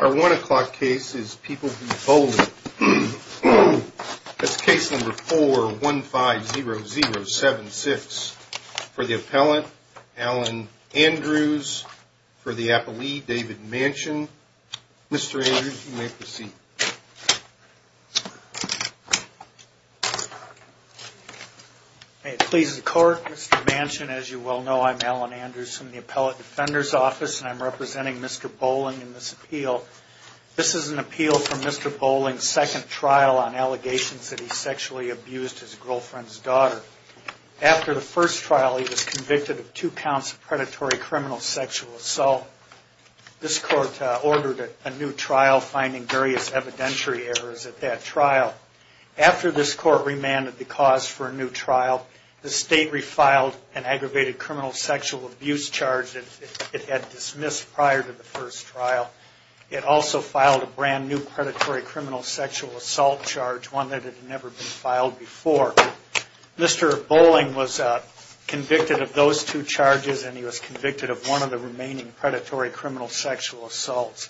Our one o'clock case is People v. Boling. That's case number 4-150076. For the appellant, Alan Andrews. For the appellee, David Manchin. Mr. Andrews, you may proceed. May it please the court, Mr. Manchin, as you well know, I'm Alan Andrews from the Appellate Defender's Office and I'm representing Mr. Boling in this appeal. This is an appeal for Mr. Boling's second trial on allegations that he sexually abused his girlfriend's daughter. After the first trial, he was convicted of two counts of predatory criminal sexual assault. This court ordered a new trial, finding various evidentiary errors at that trial. After this court remanded the cause for a new trial, the state refiled an aggravated criminal sexual abuse charge that it had dismissed prior to the first trial. It also filed a brand-new predatory criminal sexual assault charge, one that had never been filed before. Mr. Boling was convicted of those two charges and he was convicted of one of the remaining predatory criminal sexual assaults.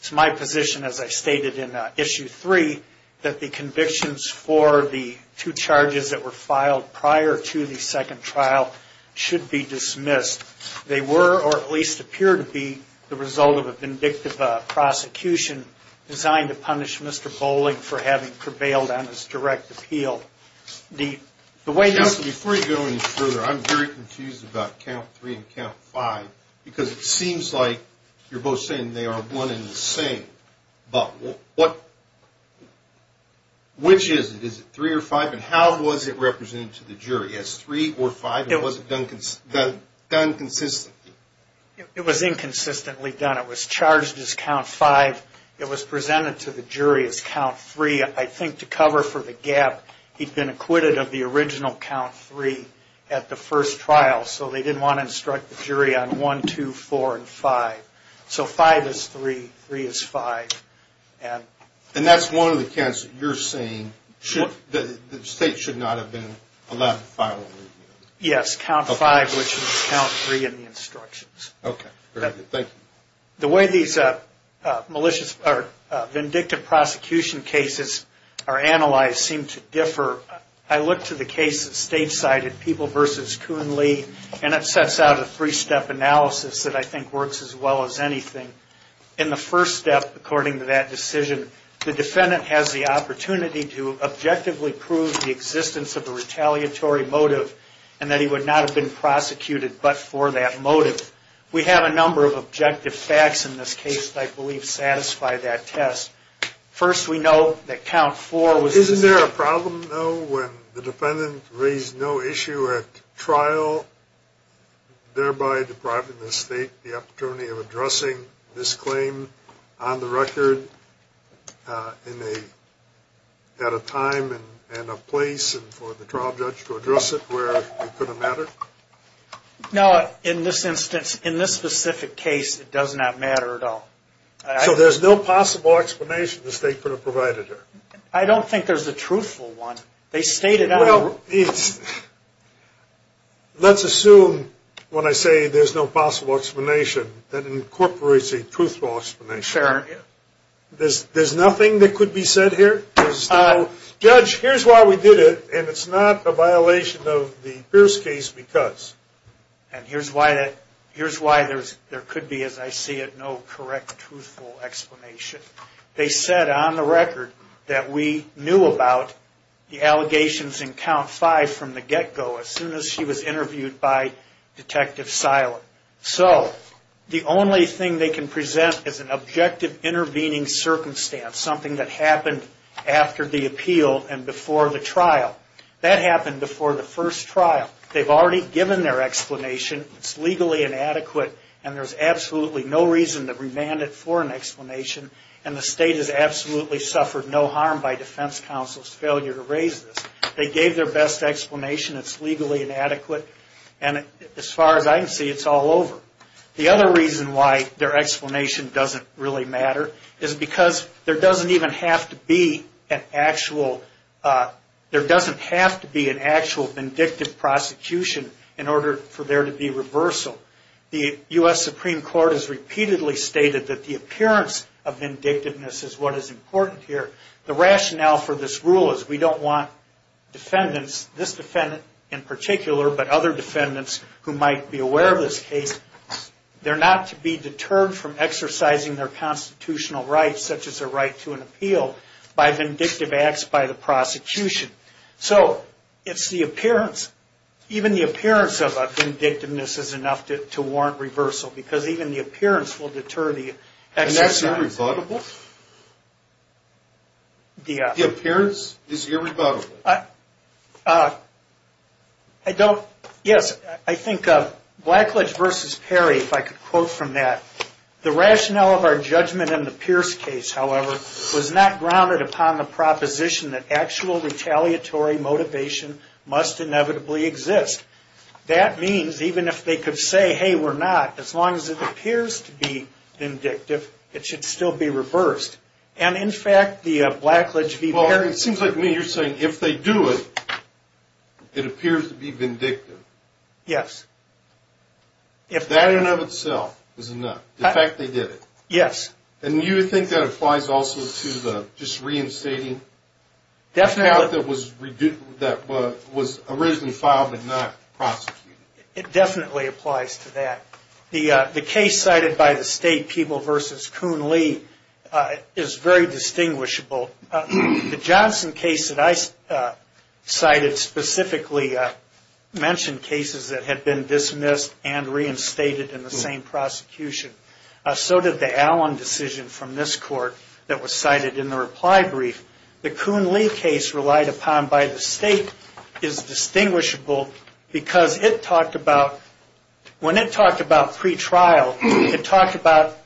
It's my position, as I stated in issue three, that the convictions for the two charges that were filed prior to the second trial should be dismissed. They were, or at least appear to be, the result of a vindictive prosecution designed to punish Mr. Boling for having prevailed on his direct appeal. Counsel, before you go any further, I'm very confused about count three and count five because it seems like you're both saying they are one and the same. But which is it? Is it three or five? And how was it represented to the jury as three or five? It wasn't done consistently. It was inconsistently done. It was charged as count five. It was presented to the jury as count three. I think to cover for the gap, he'd been acquitted of the original count three at the first trial, so they didn't want to instruct the jury on one, two, four, and five. So five is three, three is five. And that's one of the counts that you're saying the state should not have been allowed to file? Yes, count five, which is count three in the instructions. Okay, thank you. The way these vindictive prosecution cases are analyzed seem to differ. I look to the case that State cited, People v. Coonley, and it sets out a three-step analysis that I think works as well as anything. In the first step, according to that decision, the defendant has the opportunity to objectively prove the existence of a retaliatory motive and that he would not have been prosecuted but for that motive. We have a number of objective facts in this case that I believe satisfy that test. First, we know that count four was the same. Isn't there a problem, though, when the defendant raised no issue at trial, thereby depriving the state the opportunity of addressing this claim on the record at a time and a place for the trial judge to address it where it couldn't matter? No, in this instance, in this specific case, it does not matter at all. So there's no possible explanation the state could have provided here? I don't think there's a truthful one. They stated that. Well, let's assume when I say there's no possible explanation that incorporates a truthful explanation. Sure. There's nothing that could be said here? Judge, here's why we did it, and it's not a violation of the Pierce case because. And here's why there could be, as I see it, no correct truthful explanation. They said on the record that we knew about the allegations in count five from the get-go as soon as she was interviewed by Detective Silent. So the only thing they can present is an objective intervening circumstance, something that happened after the appeal and before the trial. That happened before the first trial. They've already given their explanation. It's legally inadequate, and there's absolutely no reason to remand it for an explanation, and the state has absolutely suffered no harm by defense counsel's failure to raise this. They gave their best explanation. It's legally inadequate, and as far as I can see, it's all over. The other reason why their explanation doesn't really matter is because there doesn't even have to be an actual vindictive prosecution in order for there to be reversal. The U.S. Supreme Court has repeatedly stated that the appearance of vindictiveness is what is important here. The rationale for this rule is we don't want defendants, this defendant in particular, but other defendants who might be aware of this case, they're not to be deterred from exercising their vindictive acts by the prosecution. So it's the appearance. Even the appearance of a vindictiveness is enough to warrant reversal, because even the appearance will deter the exercise. And that's irrebuttable? The appearance is irrebuttable. Yes, I think Blackledge v. Perry, if I could quote from that, the rationale of our judgment in the Pierce case, however, was not grounded upon the proposition that actual retaliatory motivation must inevitably exist. That means even if they could say, hey, we're not, as long as it appears to be vindictive, it should still be reversed. And, in fact, the Blackledge v. Perry... Well, it seems like to me you're saying if they do it, it appears to be vindictive. Yes. That in and of itself is enough. In fact, they did it. Yes. And you would think that applies also to the just reinstating? Definitely. That was originally filed but not prosecuted. It definitely applies to that. The case cited by the state, Peeble v. Kuhn-Lee, is very distinguishable. The Johnson case that I cited specifically mentioned cases that had been dismissed and reinstated in the same prosecution. So did the Allen decision from this court that was cited in the reply brief. The Kuhn-Lee case relied upon by the state is distinguishable because it talked about, when it talked about pretrial, it talked about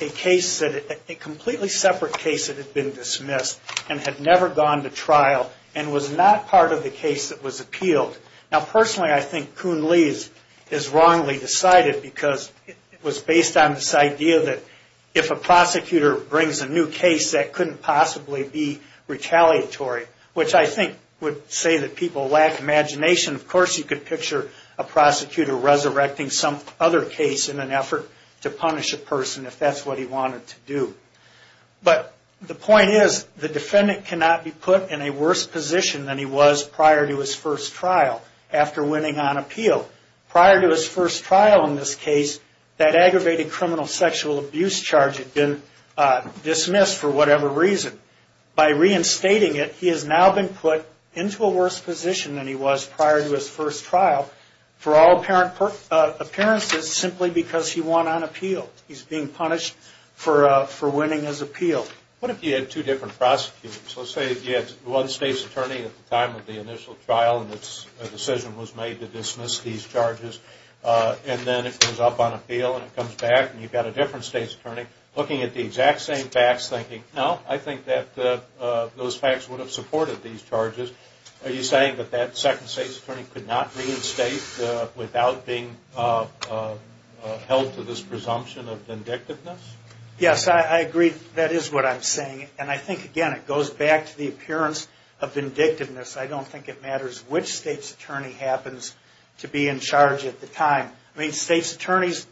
a completely separate case that had been dismissed and had never gone to trial and was not part of the case that was appealed. Now, personally, I think Kuhn-Lee's is wrongly decided because it was based on this idea that if a prosecutor brings a new case, that couldn't possibly be retaliatory, which I think would say that people lack imagination. Of course, you could picture a prosecutor resurrecting some other case in an effort to punish a person if that's what he wanted to do. But the point is, the defendant cannot be put in a worse position than he was prior to his first trial after winning on appeal. Prior to his first trial in this case, that aggravated criminal sexual abuse charge had been dismissed for whatever reason. By reinstating it, he has now been put into a worse position than he was prior to his first trial for all appearances simply because he won on appeal. He's being punished for winning his appeal. What if you had two different prosecutors? Let's say you had one state's attorney at the time of the initial trial and a decision was made to dismiss these charges, and then it goes up on appeal and it comes back and you've got a different state's attorney looking at the exact same facts, thinking, no, I think that those facts would have supported these charges. Are you saying that that second state's attorney could not reinstate without being held to this presumption of vindictiveness? Yes, I agree. That is what I'm saying. And I think, again, it goes back to the appearance of vindictiveness. I don't think it matters which state's attorney happens to be in charge at the time. I mean, state's attorneys,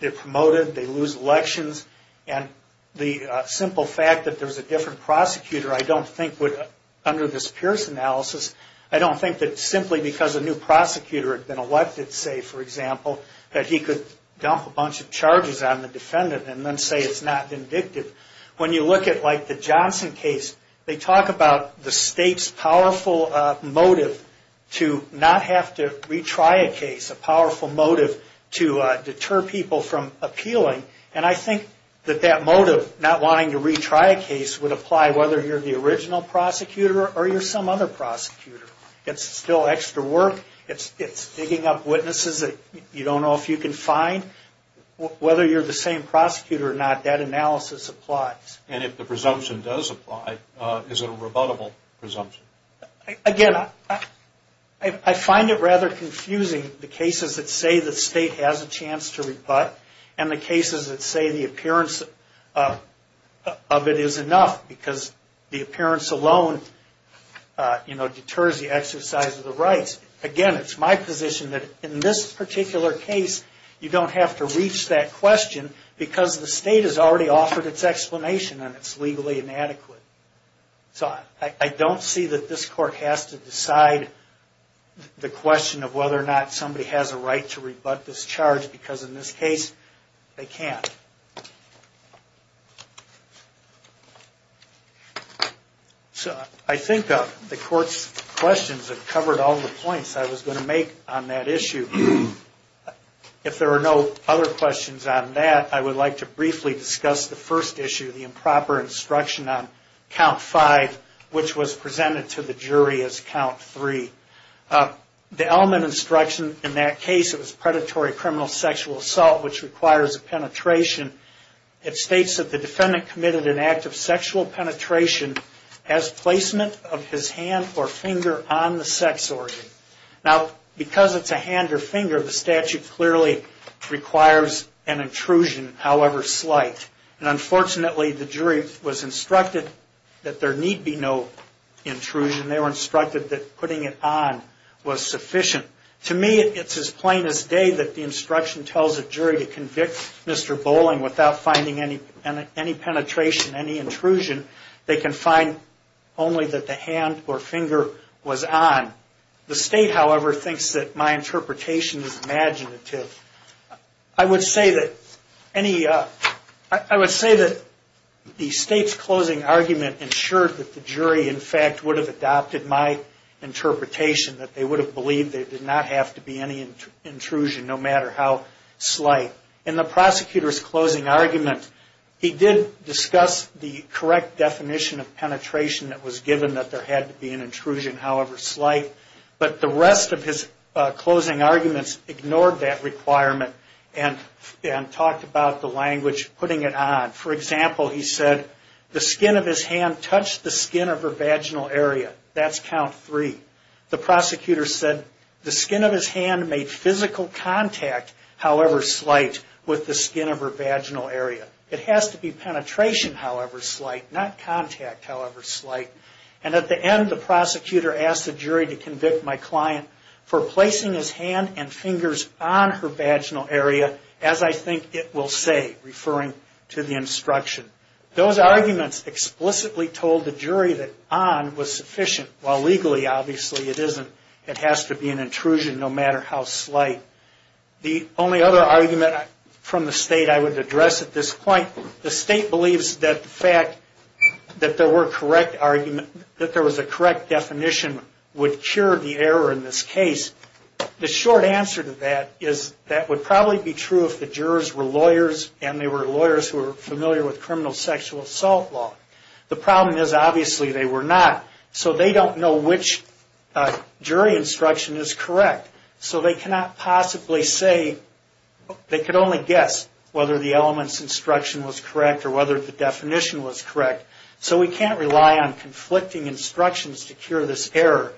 they're promoted, they lose elections, and the simple fact that there's a different prosecutor I don't think would, under this Pierce analysis, I don't think that simply because a new prosecutor had been elected, say, for example, that he could dump a bunch of charges on the defendant and then say it's not vindictive. When you look at, like, the Johnson case, they talk about the state's powerful motive to not have to retry a case, a powerful motive to deter people from appealing. And I think that that motive, not wanting to retry a case, would apply whether you're the original prosecutor or you're some other prosecutor. It's still extra work. It's digging up witnesses that you don't know if you can find. Whether you're the same prosecutor or not, that analysis applies. And if the presumption does apply, is it a rebuttable presumption? Again, I find it rather confusing the cases that say the state has a chance to rebut and the cases that say the appearance of it is enough because the appearance alone, you know, deters the exercise of the rights. Again, it's my position that in this particular case, you don't have to reach that question because the state has already offered its explanation and it's legally inadequate. So I don't see that this court has to decide the question of whether or not somebody has a right to rebut this charge because in this case, they can't. So I think the court's questions have covered all the points I was going to make on that issue. If there are no other questions on that, I would like to briefly discuss the first issue, the improper instruction on Count 5, which was presented to the jury as Count 3. The element instruction in that case, it was predatory criminal sexual assault, which requires a penetration. It states that the defendant committed an act of sexual penetration as placement of his hand or finger on the sex organ. Now, because it's a hand or finger, the statute clearly requires an intrusion, however slight. And unfortunately, the jury was instructed that there need be no intrusion. They were instructed that putting it on was sufficient. To me, it's as plain as day that the instruction tells a jury to convict Mr. Bowling without finding any penetration, any intrusion. They can find only that the hand or finger was on. The state, however, thinks that my interpretation is imaginative. I would say that the state's closing argument ensured that the jury, in fact, would have adopted my interpretation, that they would have believed there did not have to be any intrusion, no matter how slight. In the prosecutor's closing argument, he did discuss the correct definition of penetration that was given, that there had to be an intrusion, however slight. But the rest of his closing arguments ignored that requirement and talked about the language of putting it on. For example, he said, the skin of his hand touched the skin of her vaginal area. That's count three. The prosecutor said, the skin of his hand made physical contact, however slight, with the skin of her vaginal area. It has to be penetration, however slight, not contact, however slight. And at the end, the prosecutor asked the jury to convict my client for placing his hand and fingers on her vaginal area, as I think it will say, referring to the instruction. Those arguments explicitly told the jury that on was sufficient, while legally, obviously, it isn't. It has to be an intrusion, no matter how slight. The only other argument from the state I would address at this point, the state believes that the fact that there was a correct definition would cure the error in this case. The short answer to that is that would probably be true if the jurors were lawyers and they were lawyers who were familiar with criminal sexual assault law. The problem is, obviously, they were not. So they don't know which jury instruction is correct. So they cannot possibly say, they could only guess, whether the elements instruction was correct or whether the definition was correct. So we can't rely on conflicting instructions to cure this error.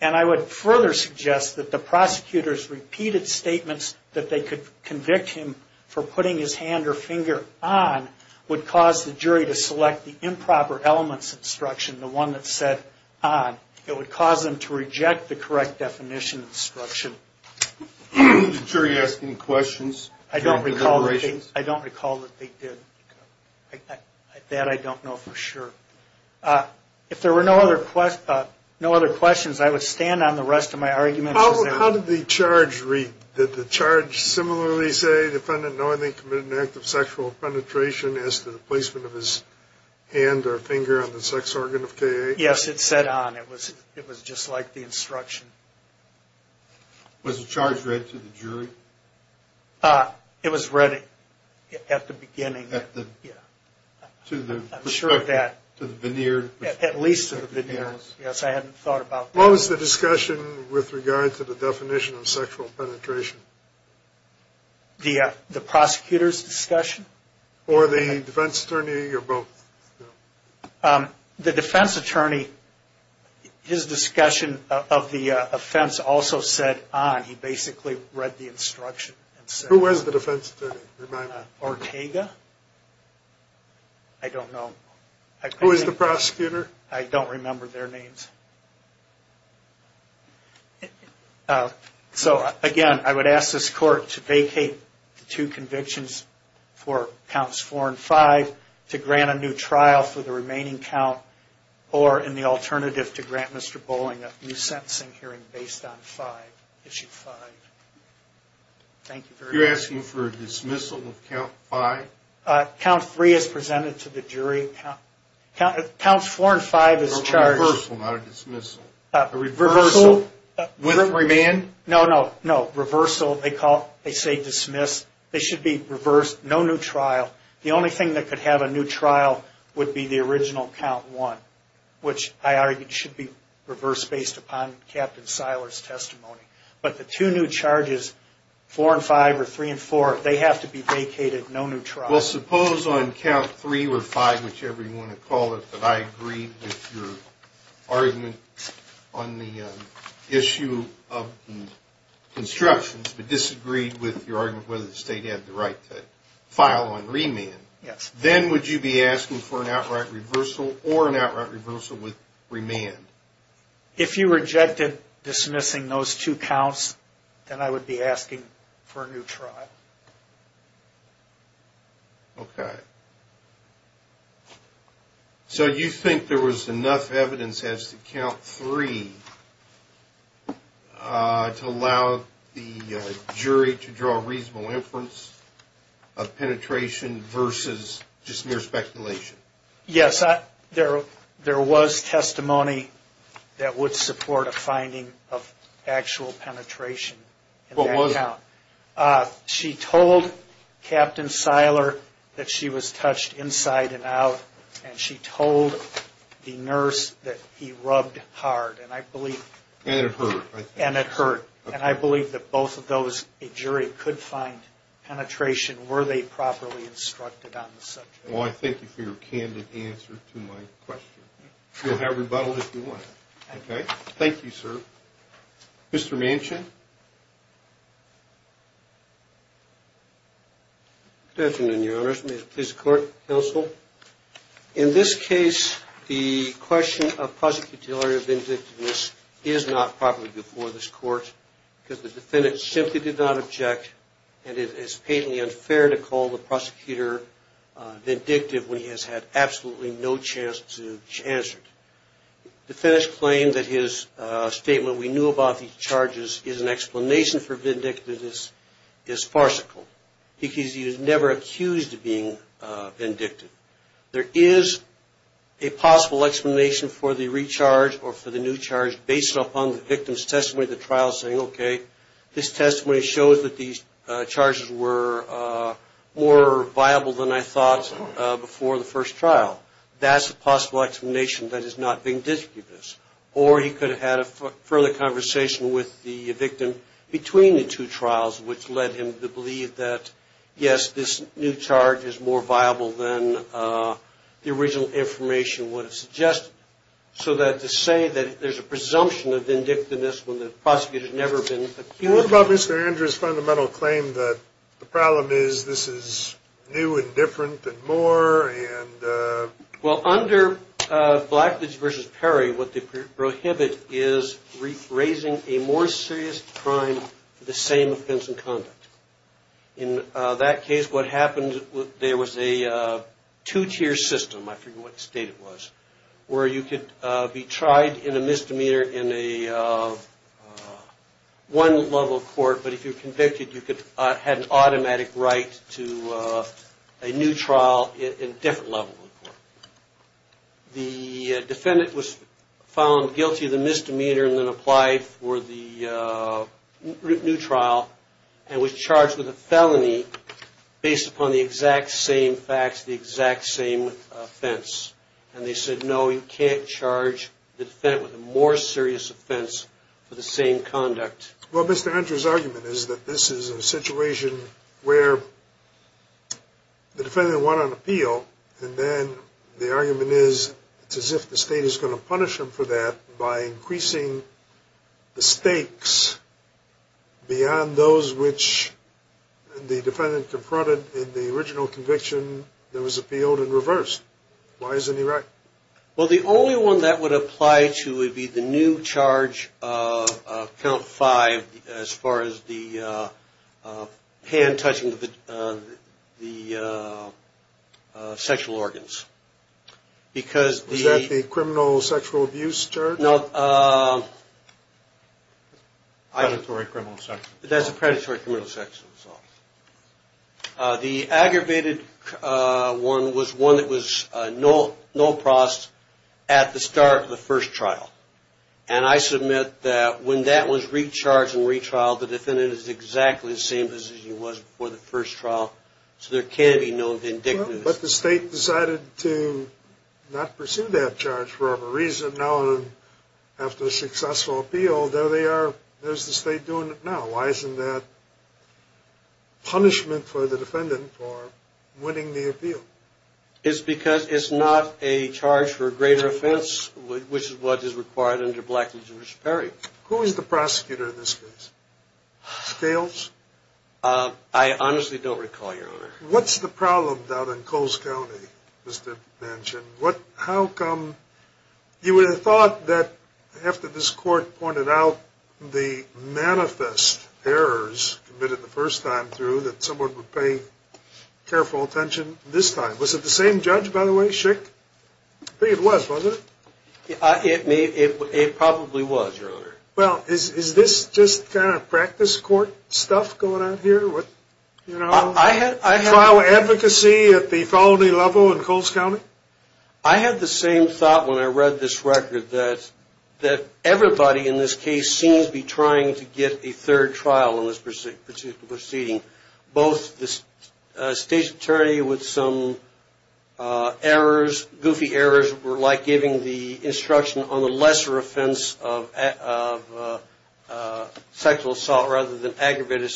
And I would further suggest that the prosecutor's repeated statements that they could convict him for putting his hand or finger on would cause the jury to select the improper elements instruction, the one that said on. It would cause them to reject the correct definition instruction. Did the jury ask any questions? I don't recall that they did. That I don't know for sure. If there were no other questions, I would stand on the rest of my arguments. How did the charge read? Did the charge similarly say, defendant knowingly committed an act of sexual penetration as to the placement of his hand or finger on the sex organ of K-8? Yes, it said on. It was just like the instruction. Was the charge read to the jury? It was read at the beginning. I'm sure of that. To the veneers? At least to the veneers. Yes, I hadn't thought about that. What was the discussion with regard to the definition of sexual penetration? The prosecutor's discussion? Or the defense attorney or both? The defense attorney, his discussion of the offense also said on. He basically read the instruction. Who was the defense attorney? Ortega? I don't know. Who was the prosecutor? I don't remember their names. So, again, I would ask this court to vacate the two convictions for counts 4 and 5 to grant a new trial for the remaining count, or in the alternative to grant Mr. Bowling a new sentencing hearing based on 5, issue 5. Thank you very much. You're asking for a dismissal of count 5? Count 3 is presented to the jury. Counts 4 and 5 is charged. A reversal, not a dismissal. A reversal. With remand? No, no, no. Reversal. They say dismiss. They should be reversed. No new trial. The only thing that could have a new trial would be the original count 1, which I argue should be reversed based upon Captain Seiler's testimony. But the two new charges, 4 and 5 or 3 and 4, they have to be vacated. No new trial. Well, suppose on count 3 or 5, whichever you want to call it, that I agreed with your argument on the issue of instructions but disagreed with your argument whether the state had the right to file on remand. Then would you be asking for an outright reversal or an outright reversal with remand? If you rejected dismissing those two counts, then I would be asking for a new trial. Okay. So you think there was enough evidence as to count 3 to allow the jury to draw a reasonable inference of penetration versus just mere speculation? Yes. There was testimony that would support a finding of actual penetration. What was it? She told Captain Seiler that she was touched inside and out, and she told the nurse that he rubbed hard. And it hurt. And it hurt. And I believe that both of those, a jury could find penetration were they properly instructed on the subject. Well, I thank you for your candid answer to my question. You'll have rebuttal if you want. Okay. Thank you, sir. Mr. Manchin? Good afternoon, Your Honors. May it please the Court, Counsel. In this case, the question of prosecutorial vindictiveness is not properly before this Court because the defendant simply did not object, and it is patently unfair to call the prosecutor vindictive when he has had absolutely no chance to answer it. The defendant's claim that his statement, we knew about these charges is an explanation for vindictiveness is farcical because he was never accused of being vindictive. There is a possible explanation for the recharge or for the new charge based upon the victim's testimony at the trial saying, okay, this testimony shows that these charges were more viable than I thought before the first trial. That's a possible explanation that is not vindictiveness. Or he could have had a further conversation with the victim between the two trials, which led him to believe that, yes, this new charge is more viable than the original information would have suggested. So that to say that there's a presumption of vindictiveness when the prosecutor has never been accused. What about Mr. Andrews' fundamental claim that the problem is this is new and different and more Well, under Blackwoods v. Perry, what they prohibit is raising a more serious crime for the same offense and conduct. In that case, what happened, there was a two-tier system, I forget what state it was, where you could be tried in a misdemeanor in a one-level court, but if you were convicted, you had an automatic right to a new trial in a different level of court. The defendant was found guilty of the misdemeanor and then applied for the new trial and was charged with a felony based upon the exact same facts, the exact same offense. And they said, no, you can't charge the defendant with a more serious offense for the same conduct. Well, Mr. Andrews' argument is that this is a situation where the defendant went on appeal and then the argument is it's as if the state is going to punish him for that by increasing the stakes beyond those which the defendant confronted in the original conviction that was appealed and reversed. Why isn't he right? Well, the only one that would apply to would be the new charge, count five, as far as the hand touching the sexual organs. Was that the criminal sexual abuse charge? No. Predatory criminal sexual assault. That's a predatory criminal sexual assault. The aggravated one was one that was no process at the start of the first trial. And I submit that when that was recharged and retrialed, the defendant is exactly the same position he was before the first trial. So there can be no vindictiveness. But the state decided to not pursue that charge for whatever reason. Now after a successful appeal, there they are, there's the state doing it now. Why isn't that punishment for the defendant for winning the appeal? It's because it's not a charge for a greater offense, which is what is required under black and Jewish apparel. Who is the prosecutor in this case? Scales? I honestly don't recall, Your Honor. What's the problem down in Coles County, Mr. Banchin? You would have thought that after this court pointed out the manifest errors committed the first time through that someone would pay careful attention this time. Was it the same judge, by the way, Schick? I think it was, wasn't it? It probably was, Your Honor. Well, is this just kind of practice court stuff going on here? You know, trial advocacy at the felony level in Coles County? I had the same thought when I read this record, that everybody in this case seems to be trying to get a third trial in this proceeding. Both the state's attorney with some errors, goofy errors, were like giving the instruction on the lesser offense of sexual assault rather than aggravated.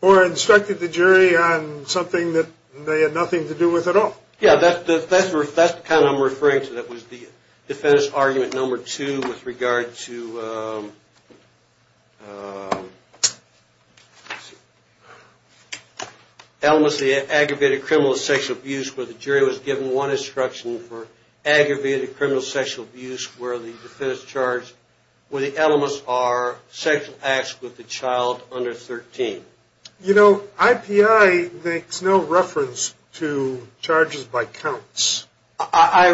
Or instructed the jury on something that they had nothing to do with at all. Yeah, that's the kind I'm referring to. That was the defendant's argument number two with regard to elements of the aggravated criminal sexual abuse, where the jury was given one instruction for aggravated criminal sexual abuse, where the defendant's charged, where the elements are sexual acts with the child under 13. You know, IPI makes no reference to charges by counts. How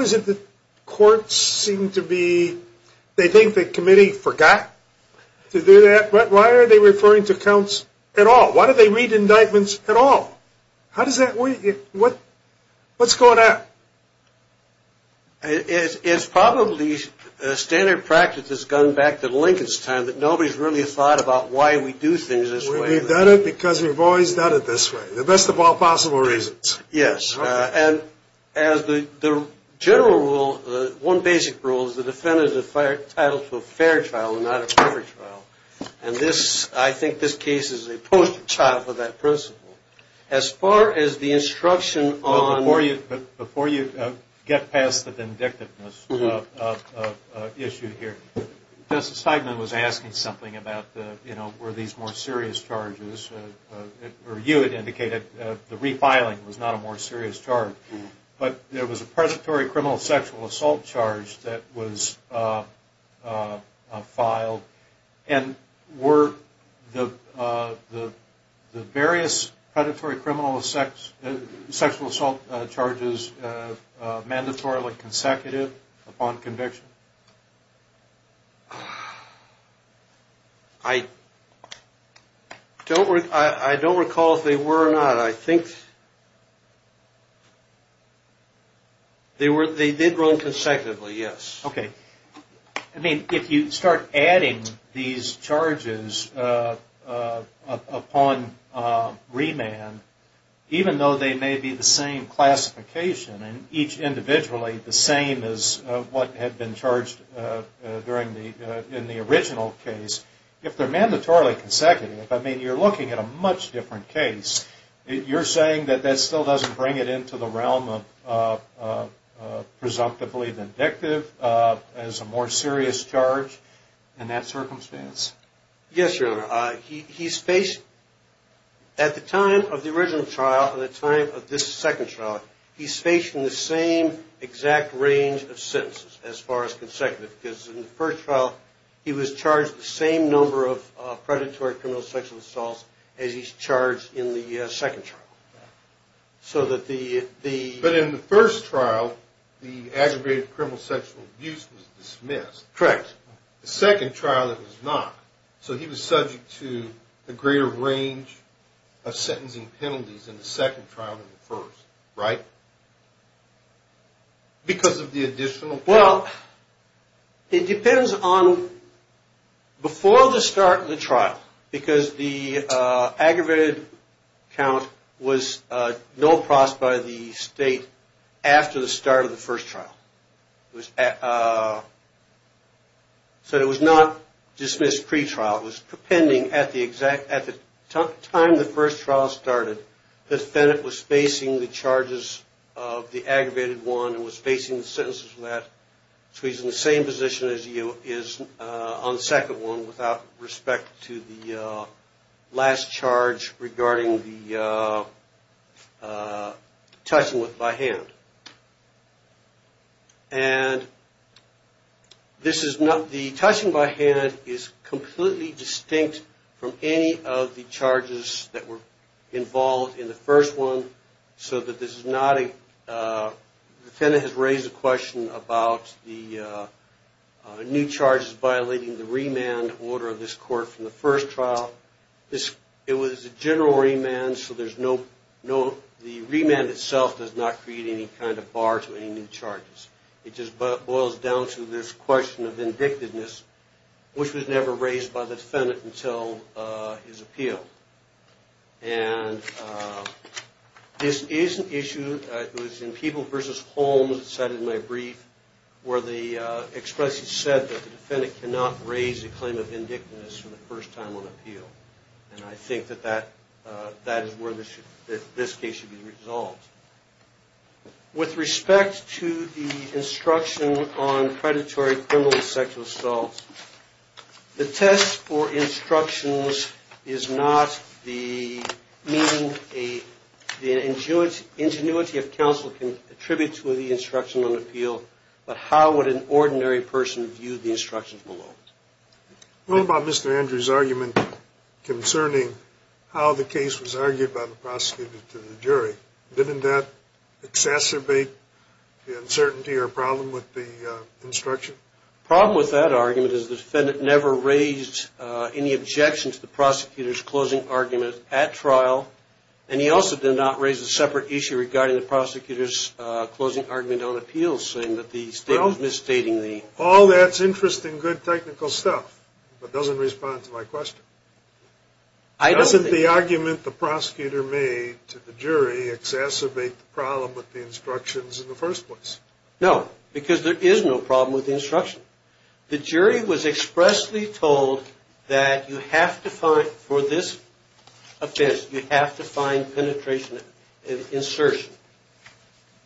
is it that courts seem to be, they think the committee forgot to do that? Why are they referring to counts at all? Why do they read indictments at all? How does that work? What's going on? It's probably standard practice that's gone back to Lincoln's time that nobody's really thought about why we do things this way. We've done it because we've always done it this way. The best of all possible reasons. Yes. And the general rule, one basic rule, is the defendant is entitled to a fair trial and not a perfect trial. And I think this case is a poster child for that principle. As far as the instruction on- Before you get past the vindictiveness issue here, Justice Steigman was asking something about were these more serious charges. Or you had indicated the refiling was not a more serious charge. But there was a predatory criminal sexual assault charge that was filed. And were the various predatory criminal sexual assault charges mandatorily consecutive upon conviction? I don't recall if they were or not. I think they did run consecutively, yes. Okay. I mean, if you start adding these charges upon remand, even though they may be the same classification and each individually the same as what had been charged in the original case, if they're mandatorily consecutive, I mean, you're looking at a much different case. You're saying that that still doesn't bring it into the realm of presumptively vindictive as a more serious charge in that circumstance? Yes, Your Honor. He's faced, at the time of the original trial and the time of this second trial, he's faced in the same exact range of sentences as far as consecutive. Because in the first trial, he was charged the same number of predatory criminal sexual assaults as he's charged in the second trial. But in the first trial, the aggravated criminal sexual abuse was dismissed. Correct. The second trial it was not. So he was subject to a greater range of sentencing penalties in the second trial than the first, right? Because of the additional penalty. Well, it depends on before the start of the trial, because the aggravated count was no cross by the state after the start of the first trial. So it was not dismissed pretrial. It was depending at the time the first trial started, the defendant was facing the charges of the aggravated one and was facing the sentences for that. So he's in the same position as you is on the second one without respect to the last charge regarding the touching by hand. And the touching by hand is completely distinct from any of the charges that were involved in the first one So the defendant has raised a question about the new charges violating the remand order of this court from the first trial. It was a general remand, so the remand itself does not create any kind of bar to any new charges. It just boils down to this question of vindictiveness, which was never raised by the defendant until his appeal. And this is an issue, it was in People v. Holmes, it's cited in my brief, where the expression said that the defendant cannot raise a claim of vindictiveness for the first time on appeal. And I think that that is where this case should be resolved. With respect to the instruction on predatory criminal sexual assault, the test for instructions is not the ingenuity of counsel can attribute to the instruction on appeal, but how would an ordinary person view the instructions below. What about Mr. Andrews' argument concerning how the case was argued by the prosecutor to the jury? Didn't that exacerbate the uncertainty or problem with the instruction? The problem with that argument is the defendant never raised any objection to the prosecutor's closing argument at trial, and he also did not raise a separate issue regarding the prosecutor's closing argument on appeal, saying that the statement was misstating the... Well, all that's interesting, good, technical stuff, but doesn't respond to my question. Doesn't the argument the prosecutor made to the jury exacerbate the problem with the instructions in the first place? No, because there is no problem with the instruction. The jury was expressly told that you have to find, for this offense, you have to find penetration and insertion.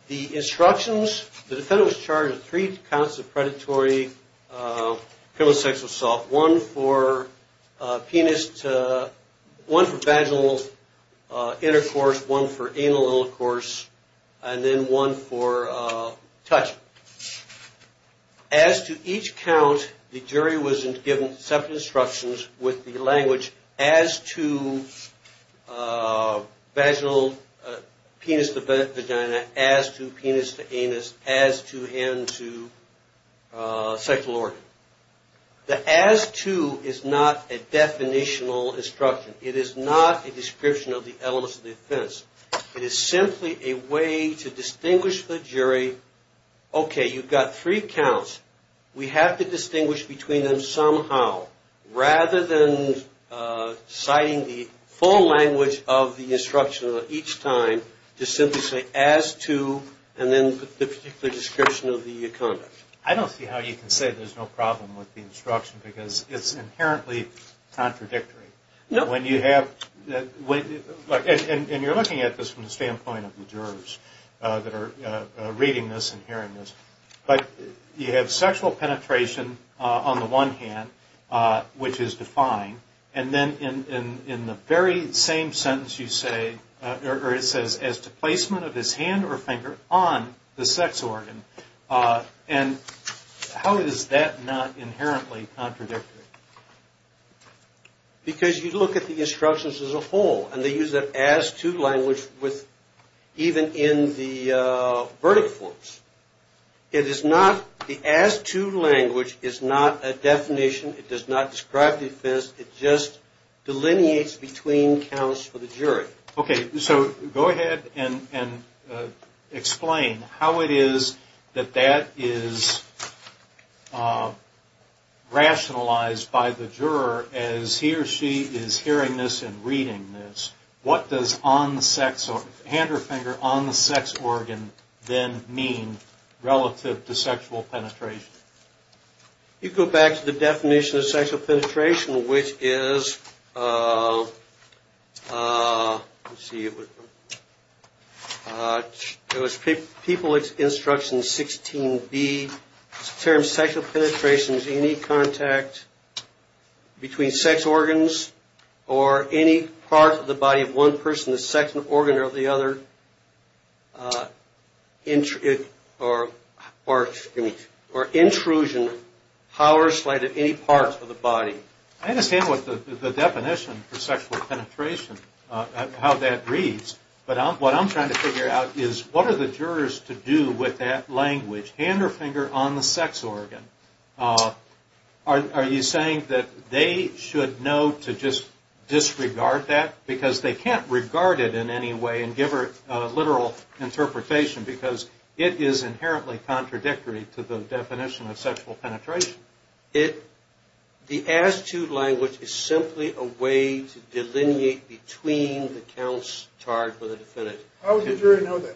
The instructions, the defendant was charged with three counts of predatory criminal sexual assault, one for penis, one for vaginal intercourse, one for anal intercourse, and then one for touching. As to each count, the jury was given separate instructions with the language, as to vaginal, penis to vagina, as to penis to anus, as to end to sexual organ. The as to is not a definitional instruction. It is not a description of the elements of the offense. It is simply a way to distinguish the jury. Okay, you've got three counts. We have to distinguish between them somehow. Rather than citing the full language of the instruction each time, just simply say, as to, and then the particular description of the conduct. I don't see how you can say there's no problem with the instruction because it's inherently contradictory. And you're looking at this from the standpoint of the jurors that are reading this and hearing this. But you have sexual penetration on the one hand, which is defined, and then in the very same sentence you say, or it says, as to placement of his hand or finger on the sex organ. And how is that not inherently contradictory? Because you look at the instructions as a whole, and they use an as to language even in the verdict forms. The as to language is not a definition. It does not describe the offense. It just delineates between counts for the jury. Okay, so go ahead and explain how it is that that is rationalized by the juror as he or she is hearing this and reading this. What does hand or finger on the sex organ then mean relative to sexual penetration? You go back to the definition of sexual penetration, which is, let's see, it was People Instruction 16b. It's a term, sexual penetration is any contact between sex organs or any part of the body of one person, the sex organ or the other, or intrusion, however slight of any part of the body. I understand what the definition for sexual penetration, how that reads. But what I'm trying to figure out is what are the jurors to do with that language, hand or finger on the sex organ? Are you saying that they should know to just disregard that? Because they can't regard it in any way and give it a literal interpretation because it is inherently contradictory to the definition of sexual penetration. The as to language is simply a way to delineate between the counts charged with a defendant. How would the jury know that?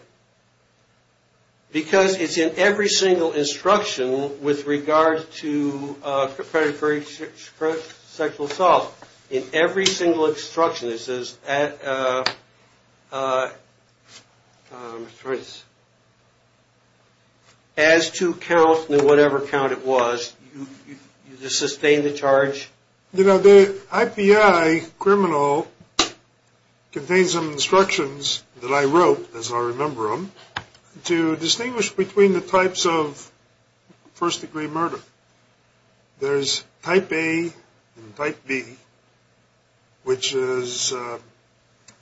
Because it's in every single instruction with regard to predatory sexual assault. In every single instruction it says, as to count and whatever count it was, you sustain the charge. You know, the IPI criminal contains some instructions that I wrote, as I remember them, to distinguish between the types of first degree murder. There's type A and type B, which are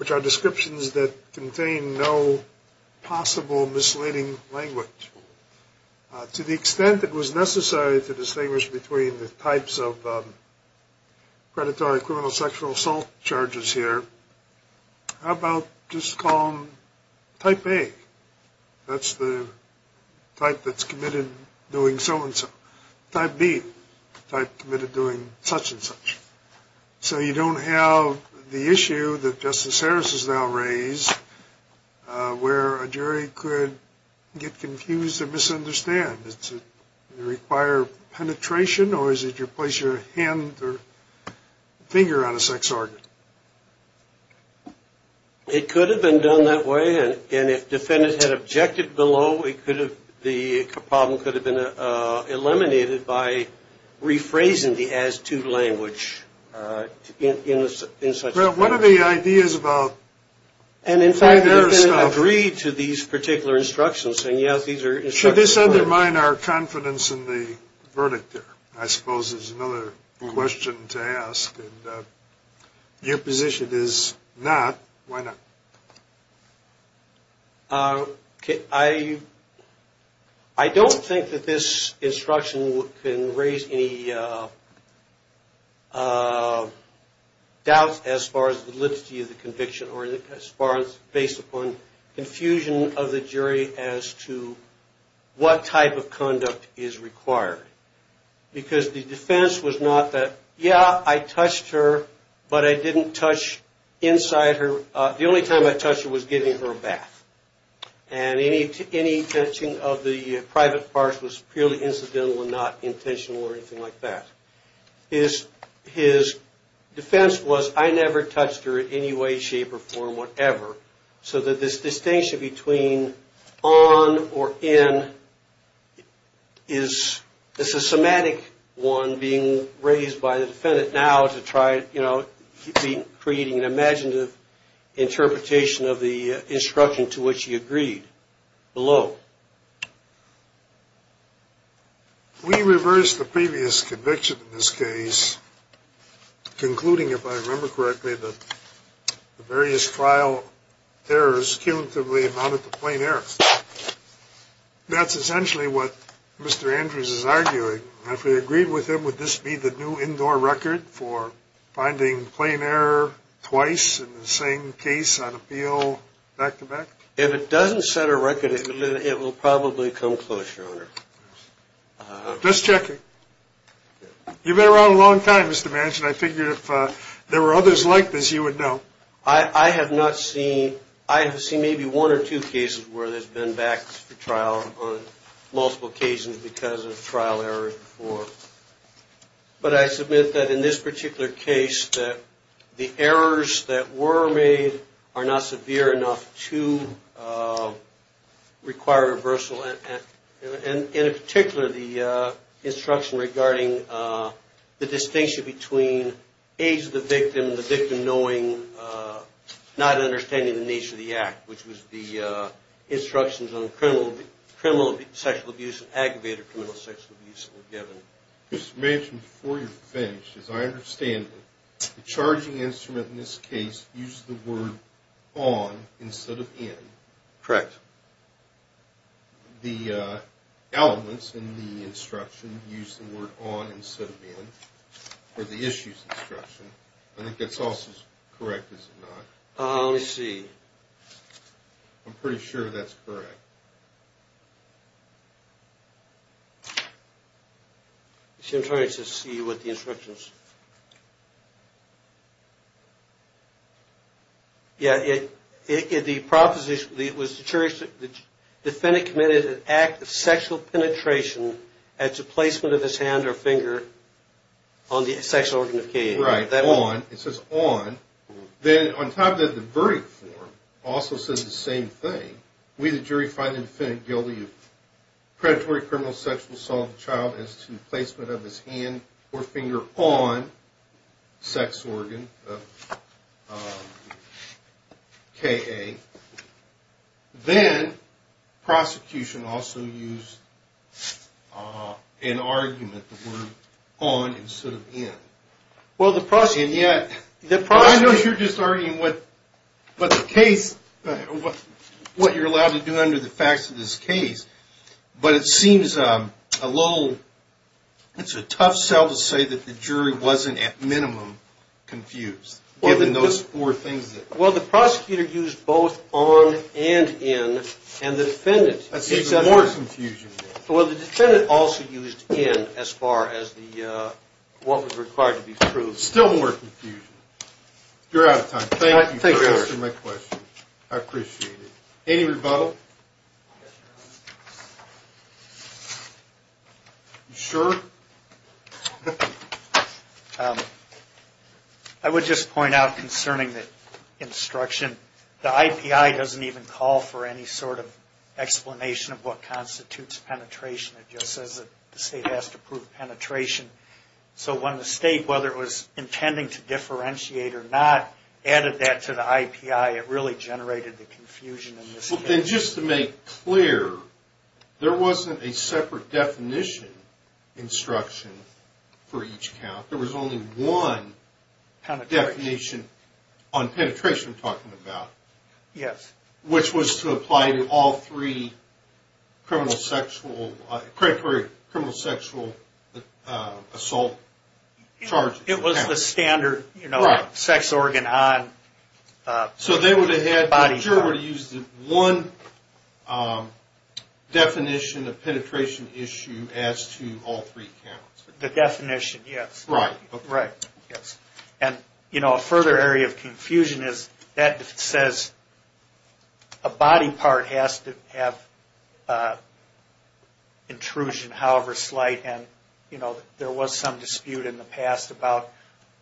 descriptions that contain no possible misleading language. To the extent it was necessary to distinguish between the types of predatory criminal sexual assault charges here, how about just call them type A? That's the type that's committed doing so-and-so. Type B, type committed doing such-and-such. So you don't have the issue that Justice Harris has now raised where a jury could get confused or misunderstand. Does it require penetration or is it you place your hand or finger on a sex organ? It could have been done that way, and if defendants had objected below, the problem could have been eliminated by rephrasing the as-to language in such-and-such. Well, what are the ideas about why the defendant agreed to these particular instructions? Should this undermine our confidence in the verdict here? I suppose there's another question to ask. Your position is not. Why not? I don't think that this instruction can raise any doubts as far as the liturgy of the conviction or as far as based upon confusion of the jury as to what type of conduct is required. Because the defense was not that, yeah, I touched her, but I didn't touch inside her. The only time I touched her was giving her a bath. And any touching of the private parts was purely incidental and not intentional or anything like that. His defense was, I never touched her in any way, shape, or form, whatever. So that this distinction between on or in is a somatic one being raised by the defendant now to try to create an imaginative interpretation of the instruction to which he agreed below. We reversed the previous conviction in this case, concluding, if I remember correctly, that the various trial errors cumulatively amounted to plain errors. That's essentially what Mr. Andrews is arguing. If we agreed with him, would this be the new indoor record for finding plain error twice in the same case on appeal back-to-back? If it doesn't set a record, it will probably come close, Your Honor. Just checking. You've been around a long time, Mr. Manchin. I figured if there were others like this, you would know. I have not seen, I have seen maybe one or two cases where there's been back-to-back trials on multiple occasions because of trial errors before. But I submit that in this particular case that the errors that were made are not severe enough to require reversal, and in particular, the instruction regarding the distinction between age of the victim, the victim knowing, not understanding the nature of the act, which was the instructions on criminal sexual abuse and aggravated criminal sexual abuse that were given. Mr. Manchin, before you're finished, as I understand it, the charging instrument in this case used the word on instead of in. Correct. The elements in the instruction used the word on instead of in for the issues instruction. I think that's also correct, is it not? Let me see. I'm pretty sure that's correct. See, I'm trying to see what the instruction is. Yeah, the proposition, it was the jury, the defendant committed an act of sexual penetration at the placement of his hand or finger on the sexual organ of care. Right, on, it says on. Then on top of that, the verdict form also says the same thing. We, the jury, find the defendant guilty of predatory criminal sexual assault of a child as to the placement of his hand or finger on the sex organ of K.A. Then, prosecution also used an argument, the word on instead of in. I know you're just arguing what the case, what you're allowed to do under the facts of this case, but it seems a little, it's a tough sell to say that the jury wasn't at minimum confused, given those four things. Well, the prosecutor used both on and in, and the defendant, Well, the defendant also used in as far as what was required to be proved. Still more confusion. You're out of time. Thank you for answering my question. I appreciate it. Any rebuttal? You sure? I would just point out concerning the instruction, the IPI doesn't even call for any sort of explanation of what constitutes penetration. It just says that the state has to prove penetration. So when the state, whether it was intending to differentiate or not, added that to the IPI, it really generated the confusion in this case. Just to make clear, there wasn't a separate definition instruction for each count. There was only one definition on penetration I'm talking about. Yes. Which was to apply to all three criminal sexual assault charges. It was the standard sex organ on body count. So they would have had, the juror would have used one definition of penetration issue as to all three counts. The definition, yes. Right. Right. Yes. And, you know, a further area of confusion is that it says a body part has to have intrusion however slight. And, you know, there was some dispute in the past about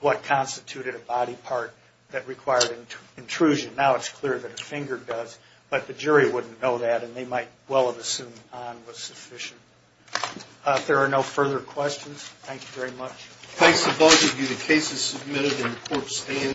what constituted a body part that required intrusion. Now it's clear that a finger does. But the jury wouldn't know that, and they might well have assumed on was sufficient. If there are no further questions, thank you very much. Thanks to both of you. The case is submitted and the court stands.